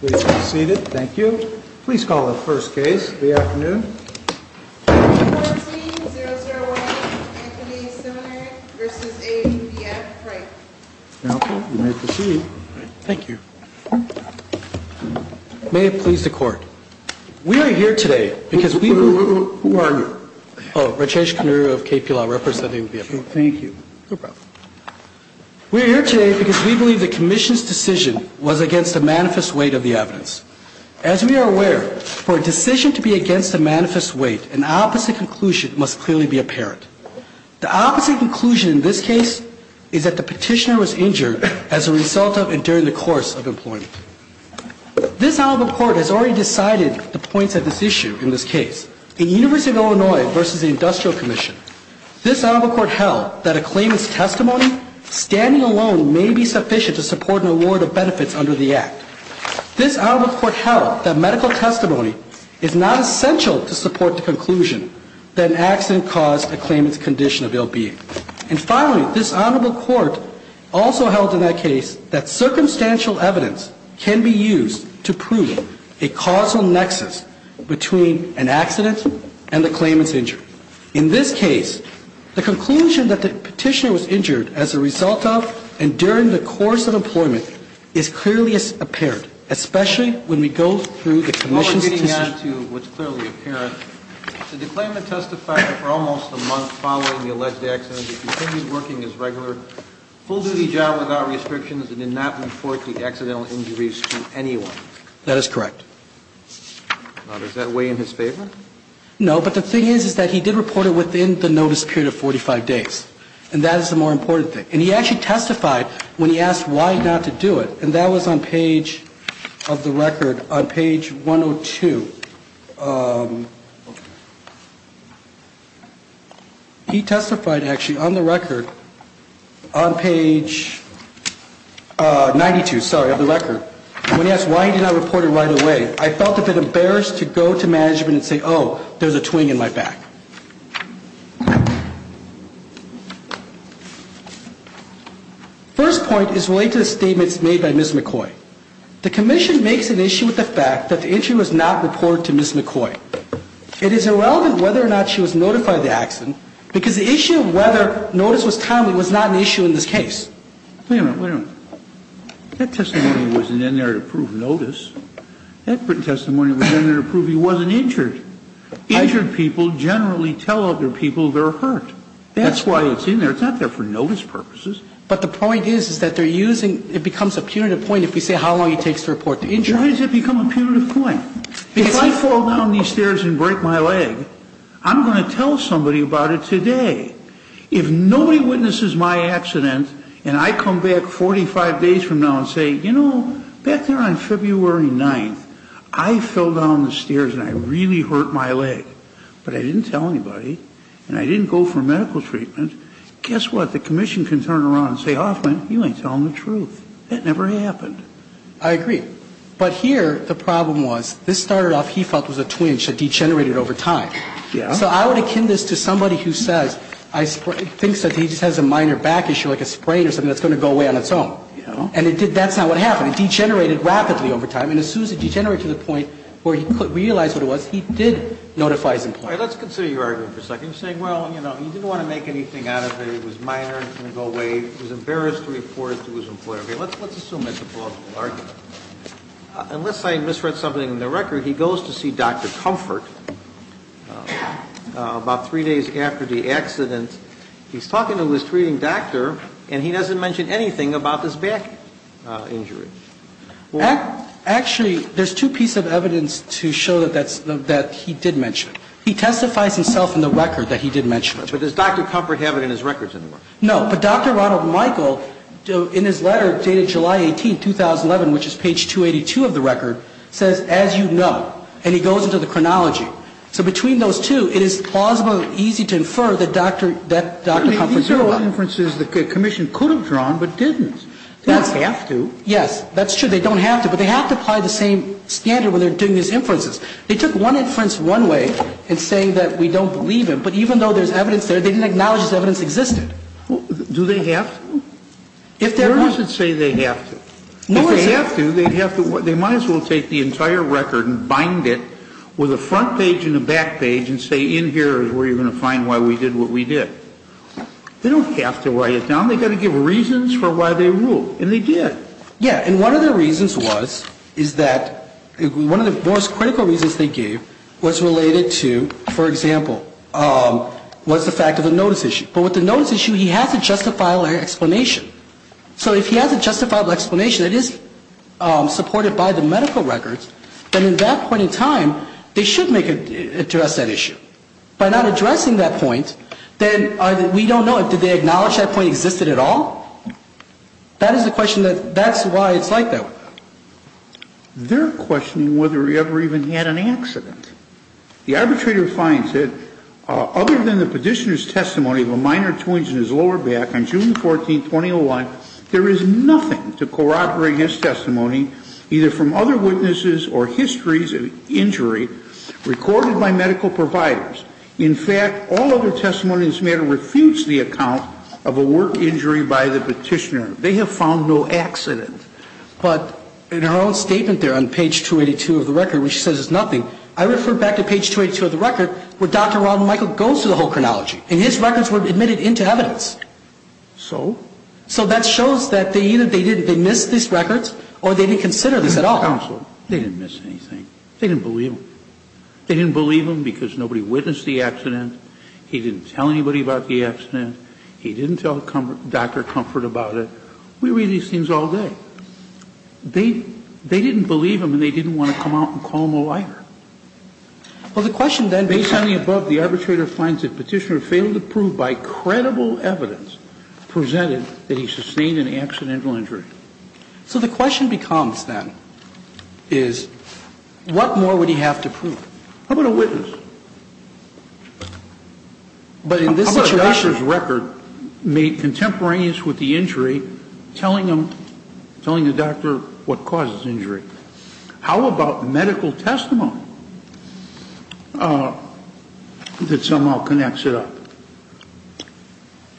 Please be seated. Thank you. Please call the first case of the afternoon. 14-001 Anthony Seminary v. A.P.B.F. Frank. Now, you may proceed. Thank you. May it please the Court. We are here today because we believe... Who are you? Oh, Rajesh Khannuri of KPLR representing BFM. Thank you. No problem. We are here today because we believe the Commission's decision was against a manifest weight of the evidence. As we are aware, for a decision to be against a manifest weight, an opposite conclusion must clearly be apparent. The opposite conclusion in this case is that the petitioner was injured as a result of and during the course of employment. This Honorable Court has already decided the points of this issue in this case. In University of Illinois v. Industrial Commission, this Honorable Court held that a claimant's testimony standing alone may be sufficient to support an award of benefits under the Act. This Honorable Court held that medical testimony is not essential to support the conclusion that an accident caused a claimant's condition of ill-being. And finally, this Honorable Court also held in that case that circumstantial evidence can be used to prove a causal nexus between an accident and the claimant's injury. In this case, the conclusion that the petitioner was injured as a result of and during the course of employment is clearly apparent, especially when we go through the Commission's decision. And then to what's clearly apparent, the claimant testified for almost a month following the alleged accident. He continued working his regular, full-duty job without restrictions and did not report the accidental injuries to anyone. That is correct. Now, does that weigh in his favor? No, but the thing is, is that he did report it within the notice period of 45 days. And that is the more important thing. And he actually testified when he asked why not to do it. And that was on page of the record, on page 102. He testified actually on the record, on page 92, sorry, of the record. When he asked why he did not report it right away, I felt a bit embarrassed to go to management and say, oh, there's a twing in my back. First point is related to the statements made by Ms. McCoy. The Commission makes an issue with the fact that the injury was not reported to Ms. McCoy. It is irrelevant whether or not she was notified of the accident because the issue of whether notice was timely was not an issue in this case. Wait a minute, wait a minute. That testimony wasn't in there to prove notice. That testimony was in there to prove he wasn't injured. Injured people generally tell other people they're hurt. That's why it's in there. It's not there for notice purposes. But the point is, is that they're using, it becomes a punitive point if we say how long it takes to report the injury. Why does it become a punitive point? If I fall down these stairs and break my leg, I'm going to tell somebody about it today. If nobody witnesses my accident and I come back 45 days from now and say, you know, back there on February 9th, I fell down the stairs and I really hurt my leg. But I didn't tell anybody and I didn't go for medical treatment, guess what? The Commission can turn around and say, Hoffman, you ain't telling the truth. That never happened. I agree. But here the problem was this started off he felt was a twinge that degenerated over time. So I would akin this to somebody who says, thinks that he just has a minor back issue like a sprain or something that's going to go away on its own. And that's not what happened. It degenerated rapidly over time. And as soon as it degenerated to the point where he realized what it was, he did notify his employer. All right. Let's consider your argument for a second. You're saying, well, you know, he didn't want to make anything out of it. It was minor. It was going to go away. He was embarrassed to report it to his employer. Okay. Let's assume that's a plausible argument. Unless I misread something in the record, he goes to see Dr. Comfort about three days after the accident. He's talking to his treating doctor, and he doesn't mention anything about this back injury. Actually, there's two pieces of evidence to show that he did mention it. He testifies himself in the record that he did mention it. But does Dr. Comfort have it in his records anymore? No. But Dr. Ronald Michael, in his letter dated July 18, 2011, which is page 282 of the record, says, as you know. And he goes into the chronology. So between those two, it is plausible, easy to infer that Dr. Comfort did not. These are all inferences the commission could have drawn but didn't. They don't have to. Yes. That's true. They don't have to. But they have to apply the same standard when they're doing these inferences. They took one inference one way in saying that we don't believe him. But even though there's evidence there, they didn't acknowledge this evidence existed. Do they have to? Where does it say they have to? If they have to, they might as well take the entire record and bind it with a front page and a back page and say in here is where you're going to find why we did what we did. They don't have to write it down. They've got to give reasons for why they ruled. And they did. Yes. And one of the reasons was, is that one of the most critical reasons they gave was related to, for example, was the fact of the notice issue. But with the notice issue, he has a justifiable explanation. So if he has a justifiable explanation that is supported by the medical records, then at that point in time, they should make it address that issue. By not addressing that point, then we don't know, did they acknowledge that point existed at all? That is the question that's why it's like that. They're questioning whether he ever even had an accident. The arbitrator finds that other than the petitioner's testimony of a minor twinge in his lower back on June 14, 2001, there is nothing to corroborate his testimony either from other witnesses or histories of injury recorded by medical providers. In fact, all other testimony in this matter refutes the account of a work injury by the petitioner. They have found no accident. But in her own statement there on page 282 of the record, which says it's nothing, I refer back to page 282 of the record where Dr. Ronald Michael goes through the whole chronology. And his records were admitted into evidence. So? So that shows that either they missed these records or they didn't consider this at all. Counsel, they didn't miss anything. They didn't believe him. They didn't believe him because nobody witnessed the accident. He didn't tell anybody about the accident. He didn't tell Dr. Comfort about it. We read these things all day. So they didn't believe him and they didn't want to come out and call him a liar. Well, the question then is. Based on the above, the arbitrator finds the petitioner failed to prove by credible evidence presented that he sustained an accidental injury. So the question becomes then is what more would he have to prove? How about a witness? But in this situation. The witnesses record made contemporaneous with the injury, telling the doctor what caused the injury. How about medical testimony that somehow connects it up?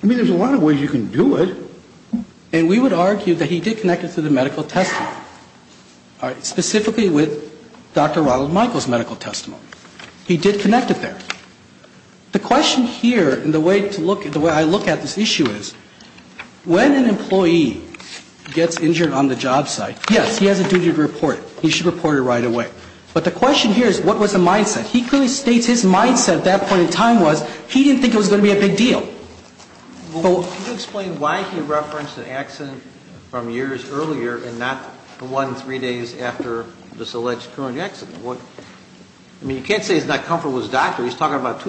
I mean, there's a lot of ways you can do it. And we would argue that he did connect it to the medical testimony. Specifically with Dr. Ronald Michael's medical testimony. He did connect it there. The question here and the way I look at this issue is. When an employee gets injured on the job site, yes, he has a duty to report. He should report it right away. But the question here is what was the mindset? He clearly states his mindset at that point in time was he didn't think it was going to be a big deal. Can you explain why he referenced an accident from years earlier and not the one three days after this alleged I mean, you can't say he's not comfortable with his doctor. He's talking about a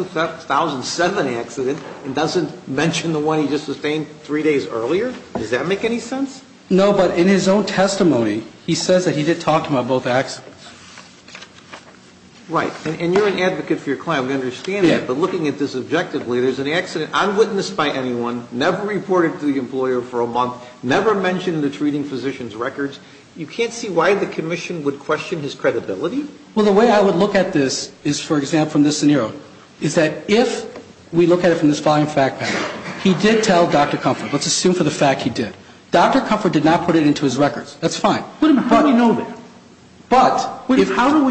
2007 accident and doesn't mention the one he just sustained three days earlier. Does that make any sense? No, but in his own testimony, he says that he did talk about both accidents. Right. And you're an advocate for your client. We understand that. But looking at this objectively, there's an accident unwitnessed by anyone. Never reported to the employer for a month. Never mentioned in the treating physician's records. You can't see why the commission would question his credibility? Well, the way I would look at this is, for example, in this scenario, is that if we look at it from this following fact pattern, he did tell Dr. Comfort. Let's assume for the fact he did. Dr. Comfort did not put it into his records. That's fine. But how do we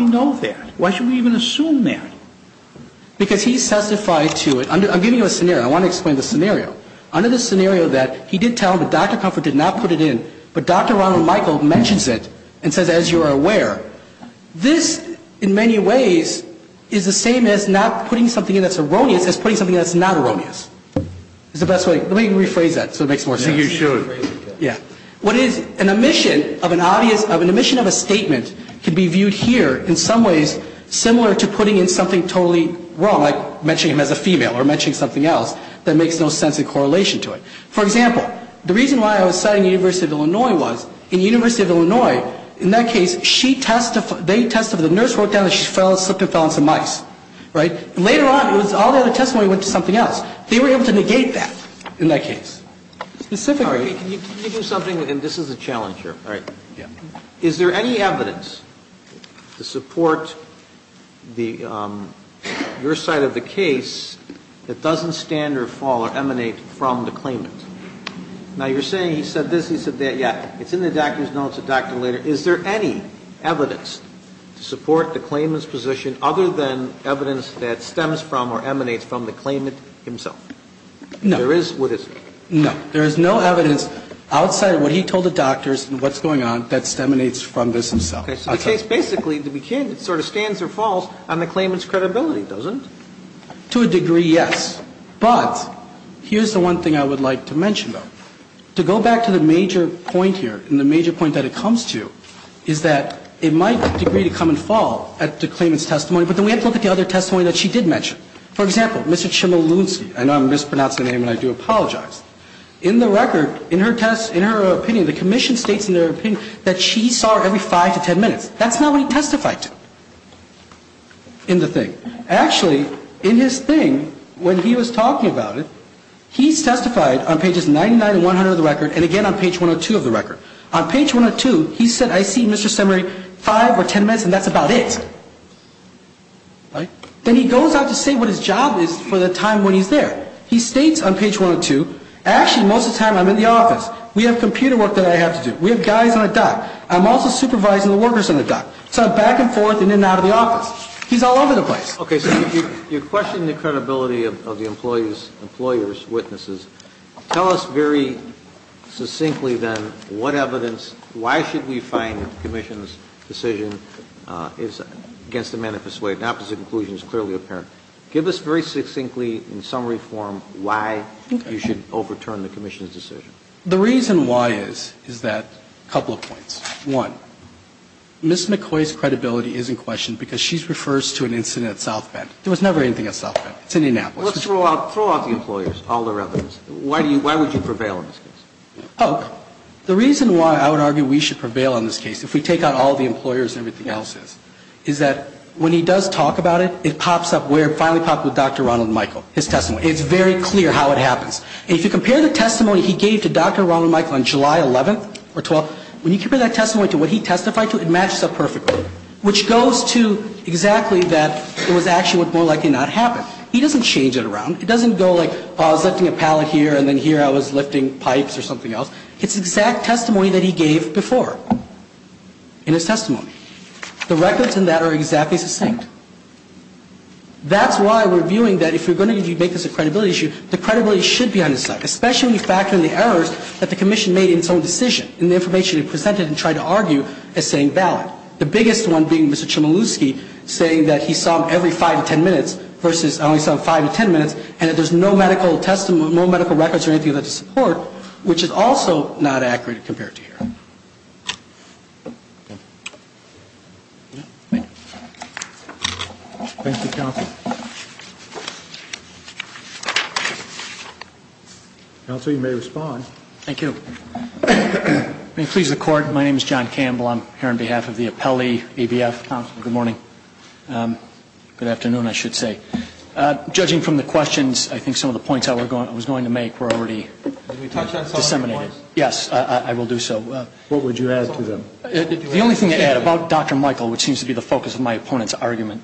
know that? Why should we even assume that? Because he testified to it. I'm giving you a scenario. I want to explain the scenario. Under the scenario that he did tell him that Dr. Comfort did not put it in, but Dr. Michael mentions it and says, as you are aware, this in many ways is the same as not putting something in that's erroneous as putting something that's not erroneous. Is the best way? Let me rephrase that so it makes more sense. You should. Yeah. What is an omission of an obvious of an omission of a statement can be viewed here in some ways similar to putting in something totally wrong, like mentioning him as a female or mentioning something else that makes no sense in correlation to it. He testified to the fact that Dr. Comfort did not put it in his records. For example, the reason why I was citing the University of Illinois was in the University of Illinois, in that case, she testified they testified the nurse wrote down that she fell, slipped and fell on some mice. Right. Later on. It was all the other testimony went to something else. They were able to negate that in that case. Specifically. Can you do something? And this is a challenge here. All right. Yeah. Is there any evidence to support your side of the case that doesn't stand or fall or emanate from the claimant? Now, you're saying he said this, he said that. Yeah. It's in the documents. No, it's a document later. Is there any evidence to support the claimant's position other than evidence that stems from or emanates from the claimant himself? No. There is? No. There is no evidence outside of what he told the doctors and what's going on that emanates from this himself. Okay. So the case basically, to be candid, sort of stands or falls on the claimant's credibility, doesn't it? To a degree, yes. But here's the one thing I would like to mention, though. To go back to the major point here and the major point that it comes to is that it might agree to come and fall at the claimant's testimony, but then we have to look at the other testimony that she did mention. For example, Mr. Chmielewski, I know I'm mispronouncing the name and I do apologize. In the record, in her test, in her opinion, the commission states in their opinion that she saw her every five to ten minutes. That's not what he testified to in the thing. Actually, in his thing, when he was talking about it, he testified on pages 99 and 100 of the record and again on page 102 of the record. On page 102, he said, I see, Mr. Semery, five or ten minutes and that's about it. Right? Then he goes out to say what his job is for the time when he's there. He states on page 102, actually, most of the time I'm in the office. We have computer work that I have to do. We have guys on a dock. I'm also supervising the workers on the dock. So I'm back and forth and in and out of the office. He's all over the place. Okay. So you're questioning the credibility of the employee's, employer's witnesses. Tell us very succinctly then what evidence, why should we find the commission's decision is against the manifest way. The opposite conclusion is clearly apparent. Give us very succinctly in summary form why you should overturn the commission's decision. The reason why is, is that, a couple of points. One, Ms. McCoy's credibility is in question because she refers to an incident at South Bend. There was never anything at South Bend. It's Indianapolis. Let's throw out the employer's, all their evidence. Why would you prevail in this case? The reason why I would argue we should prevail in this case, if we take out all the employer's and everything else is, is that when he does talk about it, it pops up where it finally popped with Dr. Ronald Michael, his testimony. It's very clear how it happens. If you compare the testimony he gave to Dr. Ronald Michael on July 11th or 12th, when you compare that testimony to what he testified to, it matches up perfectly, which goes to exactly that it was actually more likely to not happen. He doesn't change it around. It doesn't go like, I was lifting a pallet here and then here I was lifting pipes or something else. It's exact testimony that he gave before in his testimony. The records in that are exactly succinct. That's why we're viewing that if you're going to make this a credibility issue, the credibility should be on his side, especially when you factor in the errors that the commission made in its own decision and the information it presented and tried to argue as saying valid. The biggest one being Mr. Chmielewski saying that he saw him every five to ten minutes versus I only saw him five to ten minutes and that there's no medical testimony, no medical records or anything like that to support, which is also not accurate compared to here. Thank you, counsel. Counsel, you may respond. Thank you. May it please the Court, my name is John Campbell. I'm here on behalf of the Appellee ABF. Counsel, good morning. Good afternoon, I should say. Judging from the questions, I think some of the points I was going to make were already disseminated. Yes, I will do so. What would you add to them? The only thing to add about Dr. Michael, which seems to be the focus of my opponent's argument,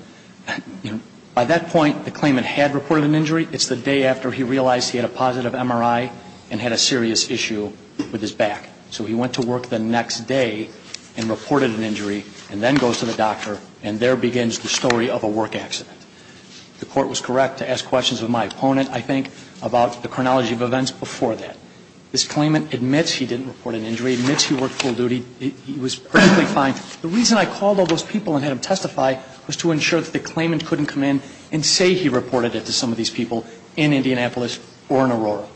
by that point the claimant had reported an injury. It's the day after he realized he had a positive MRI and had a serious issue with his back. So he went to work the next day and reported an injury and then goes to the doctor and there begins the story of a work accident. The Court was correct to ask questions of my opponent, I think, about the chronology of events before that. This claimant admits he didn't report an injury, admits he worked full duty, he was perfectly fine. The reason I called all those people and had them testify was to ensure that the claimant couldn't come in and say he reported it to some of these people in Indianapolis or in Aurora.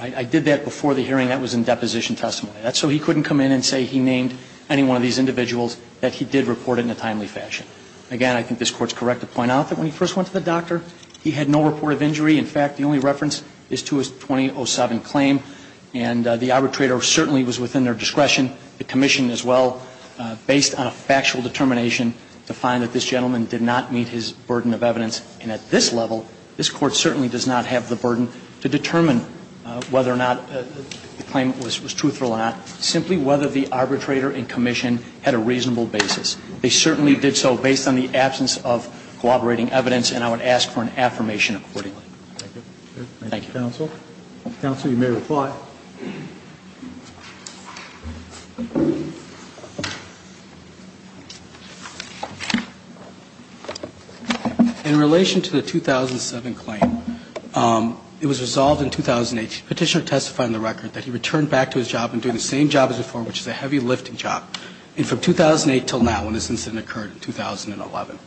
I did that before the hearing. That was in deposition testimony. So he couldn't come in and say he named any one of these individuals that he did not report in a timely fashion. Again, I think this Court is correct to point out that when he first went to the doctor, he had no report of injury. In fact, the only reference is to his 2007 claim. And the arbitrator certainly was within their discretion, the commission as well, based on a factual determination to find that this gentleman did not meet his burden of evidence. And at this level, this Court certainly does not have the burden to determine whether or not the claim was truthful or not, simply whether the arbitrator and commission had a reasonable basis. They certainly did so based on the absence of cooperating evidence, and I would ask for an affirmation accordingly. Thank you. Thank you, counsel. Counsel, you may reply. In relation to the 2007 claim, it was resolved in 2008. Petitioner testified in the record that he returned back to his job and doing the same job as before, which is a heavy lifting job. And from 2008 until now, when this incident occurred in 2011,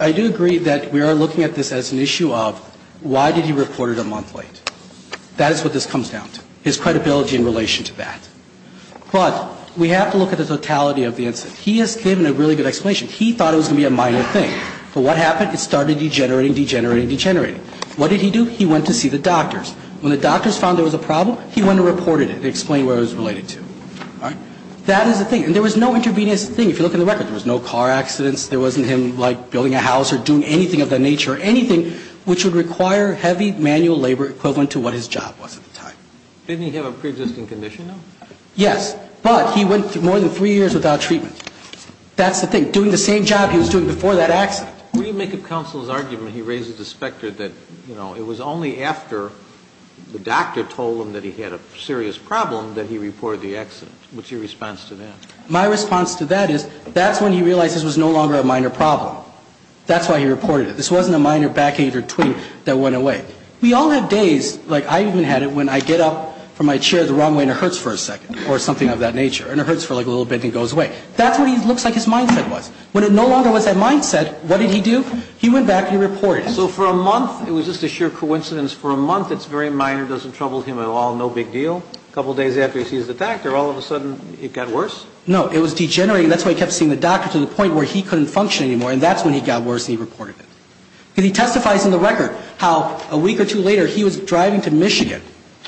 I do agree that we are looking at this as an issue of why did he report it a month late. That is what this comes down to, his credibility in relation to that. But we have to look at the totality of the incident. He has given a really good explanation. He thought it was going to be a minor thing. But what happened? It started degenerating, degenerating, degenerating. What did he do? He went to see the doctors. When the doctors found there was a problem, he went and reported it and explained where it was related to. All right? That is the thing. And there was no intervening as a thing. If you look at the record, there was no car accidents. There wasn't him, like, building a house or doing anything of that nature or anything which would require heavy manual labor equivalent to what his job was at the time. Didn't he have a preexisting condition, though? Yes. But he went more than three years without treatment. That's the thing. Doing the same job he was doing before that accident. When you make a counsel's argument, he raises the specter that, you know, it was only after the doctor told him that he had a serious problem that he reported the accident. What's your response to that? My response to that is that's when he realized this was no longer a minor problem. That's why he reported it. This wasn't a minor backache or twinge that went away. We all have days, like I even had it when I get up from my chair the wrong way and it hurts for a second or something of that nature. And it hurts for, like, a little bit and it goes away. That's what he looks like his mindset was. When it no longer was that mindset, what did he do? He went back and he reported it. So for a month it was just a sheer coincidence. For a month it's very minor, doesn't trouble him at all, no big deal. A couple days after he sees the doctor, all of a sudden it got worse? No. It was degenerating. That's why he kept seeing the doctor to the point where he couldn't function anymore. And that's when he got worse and he reported it. And he testifies in the record how a week or two later he was driving to Michigan.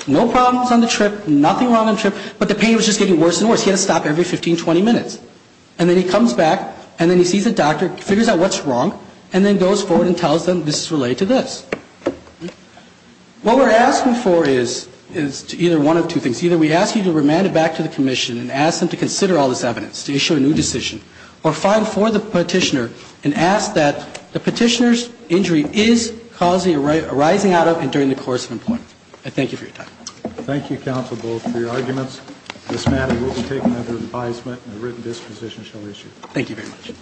No problems on the trip. Nothing wrong on the trip. But the pain was just getting worse and worse. He had to stop every 15, 20 minutes. And then he comes back and then he sees the doctor, figures out what's wrong, and then he goes forward and tells them this is related to this. What we're asking for is either one of two things. Either we ask you to remand it back to the commission and ask them to consider all this evidence, to issue a new decision, or file for the petitioner and ask that the petitioner's injury is causing a rising out of and during the course of employment. I thank you for your time. Thank you, counsel, both for your arguments. This matter will be taken under advisement and a written disposition shall be issued. Thank you very much.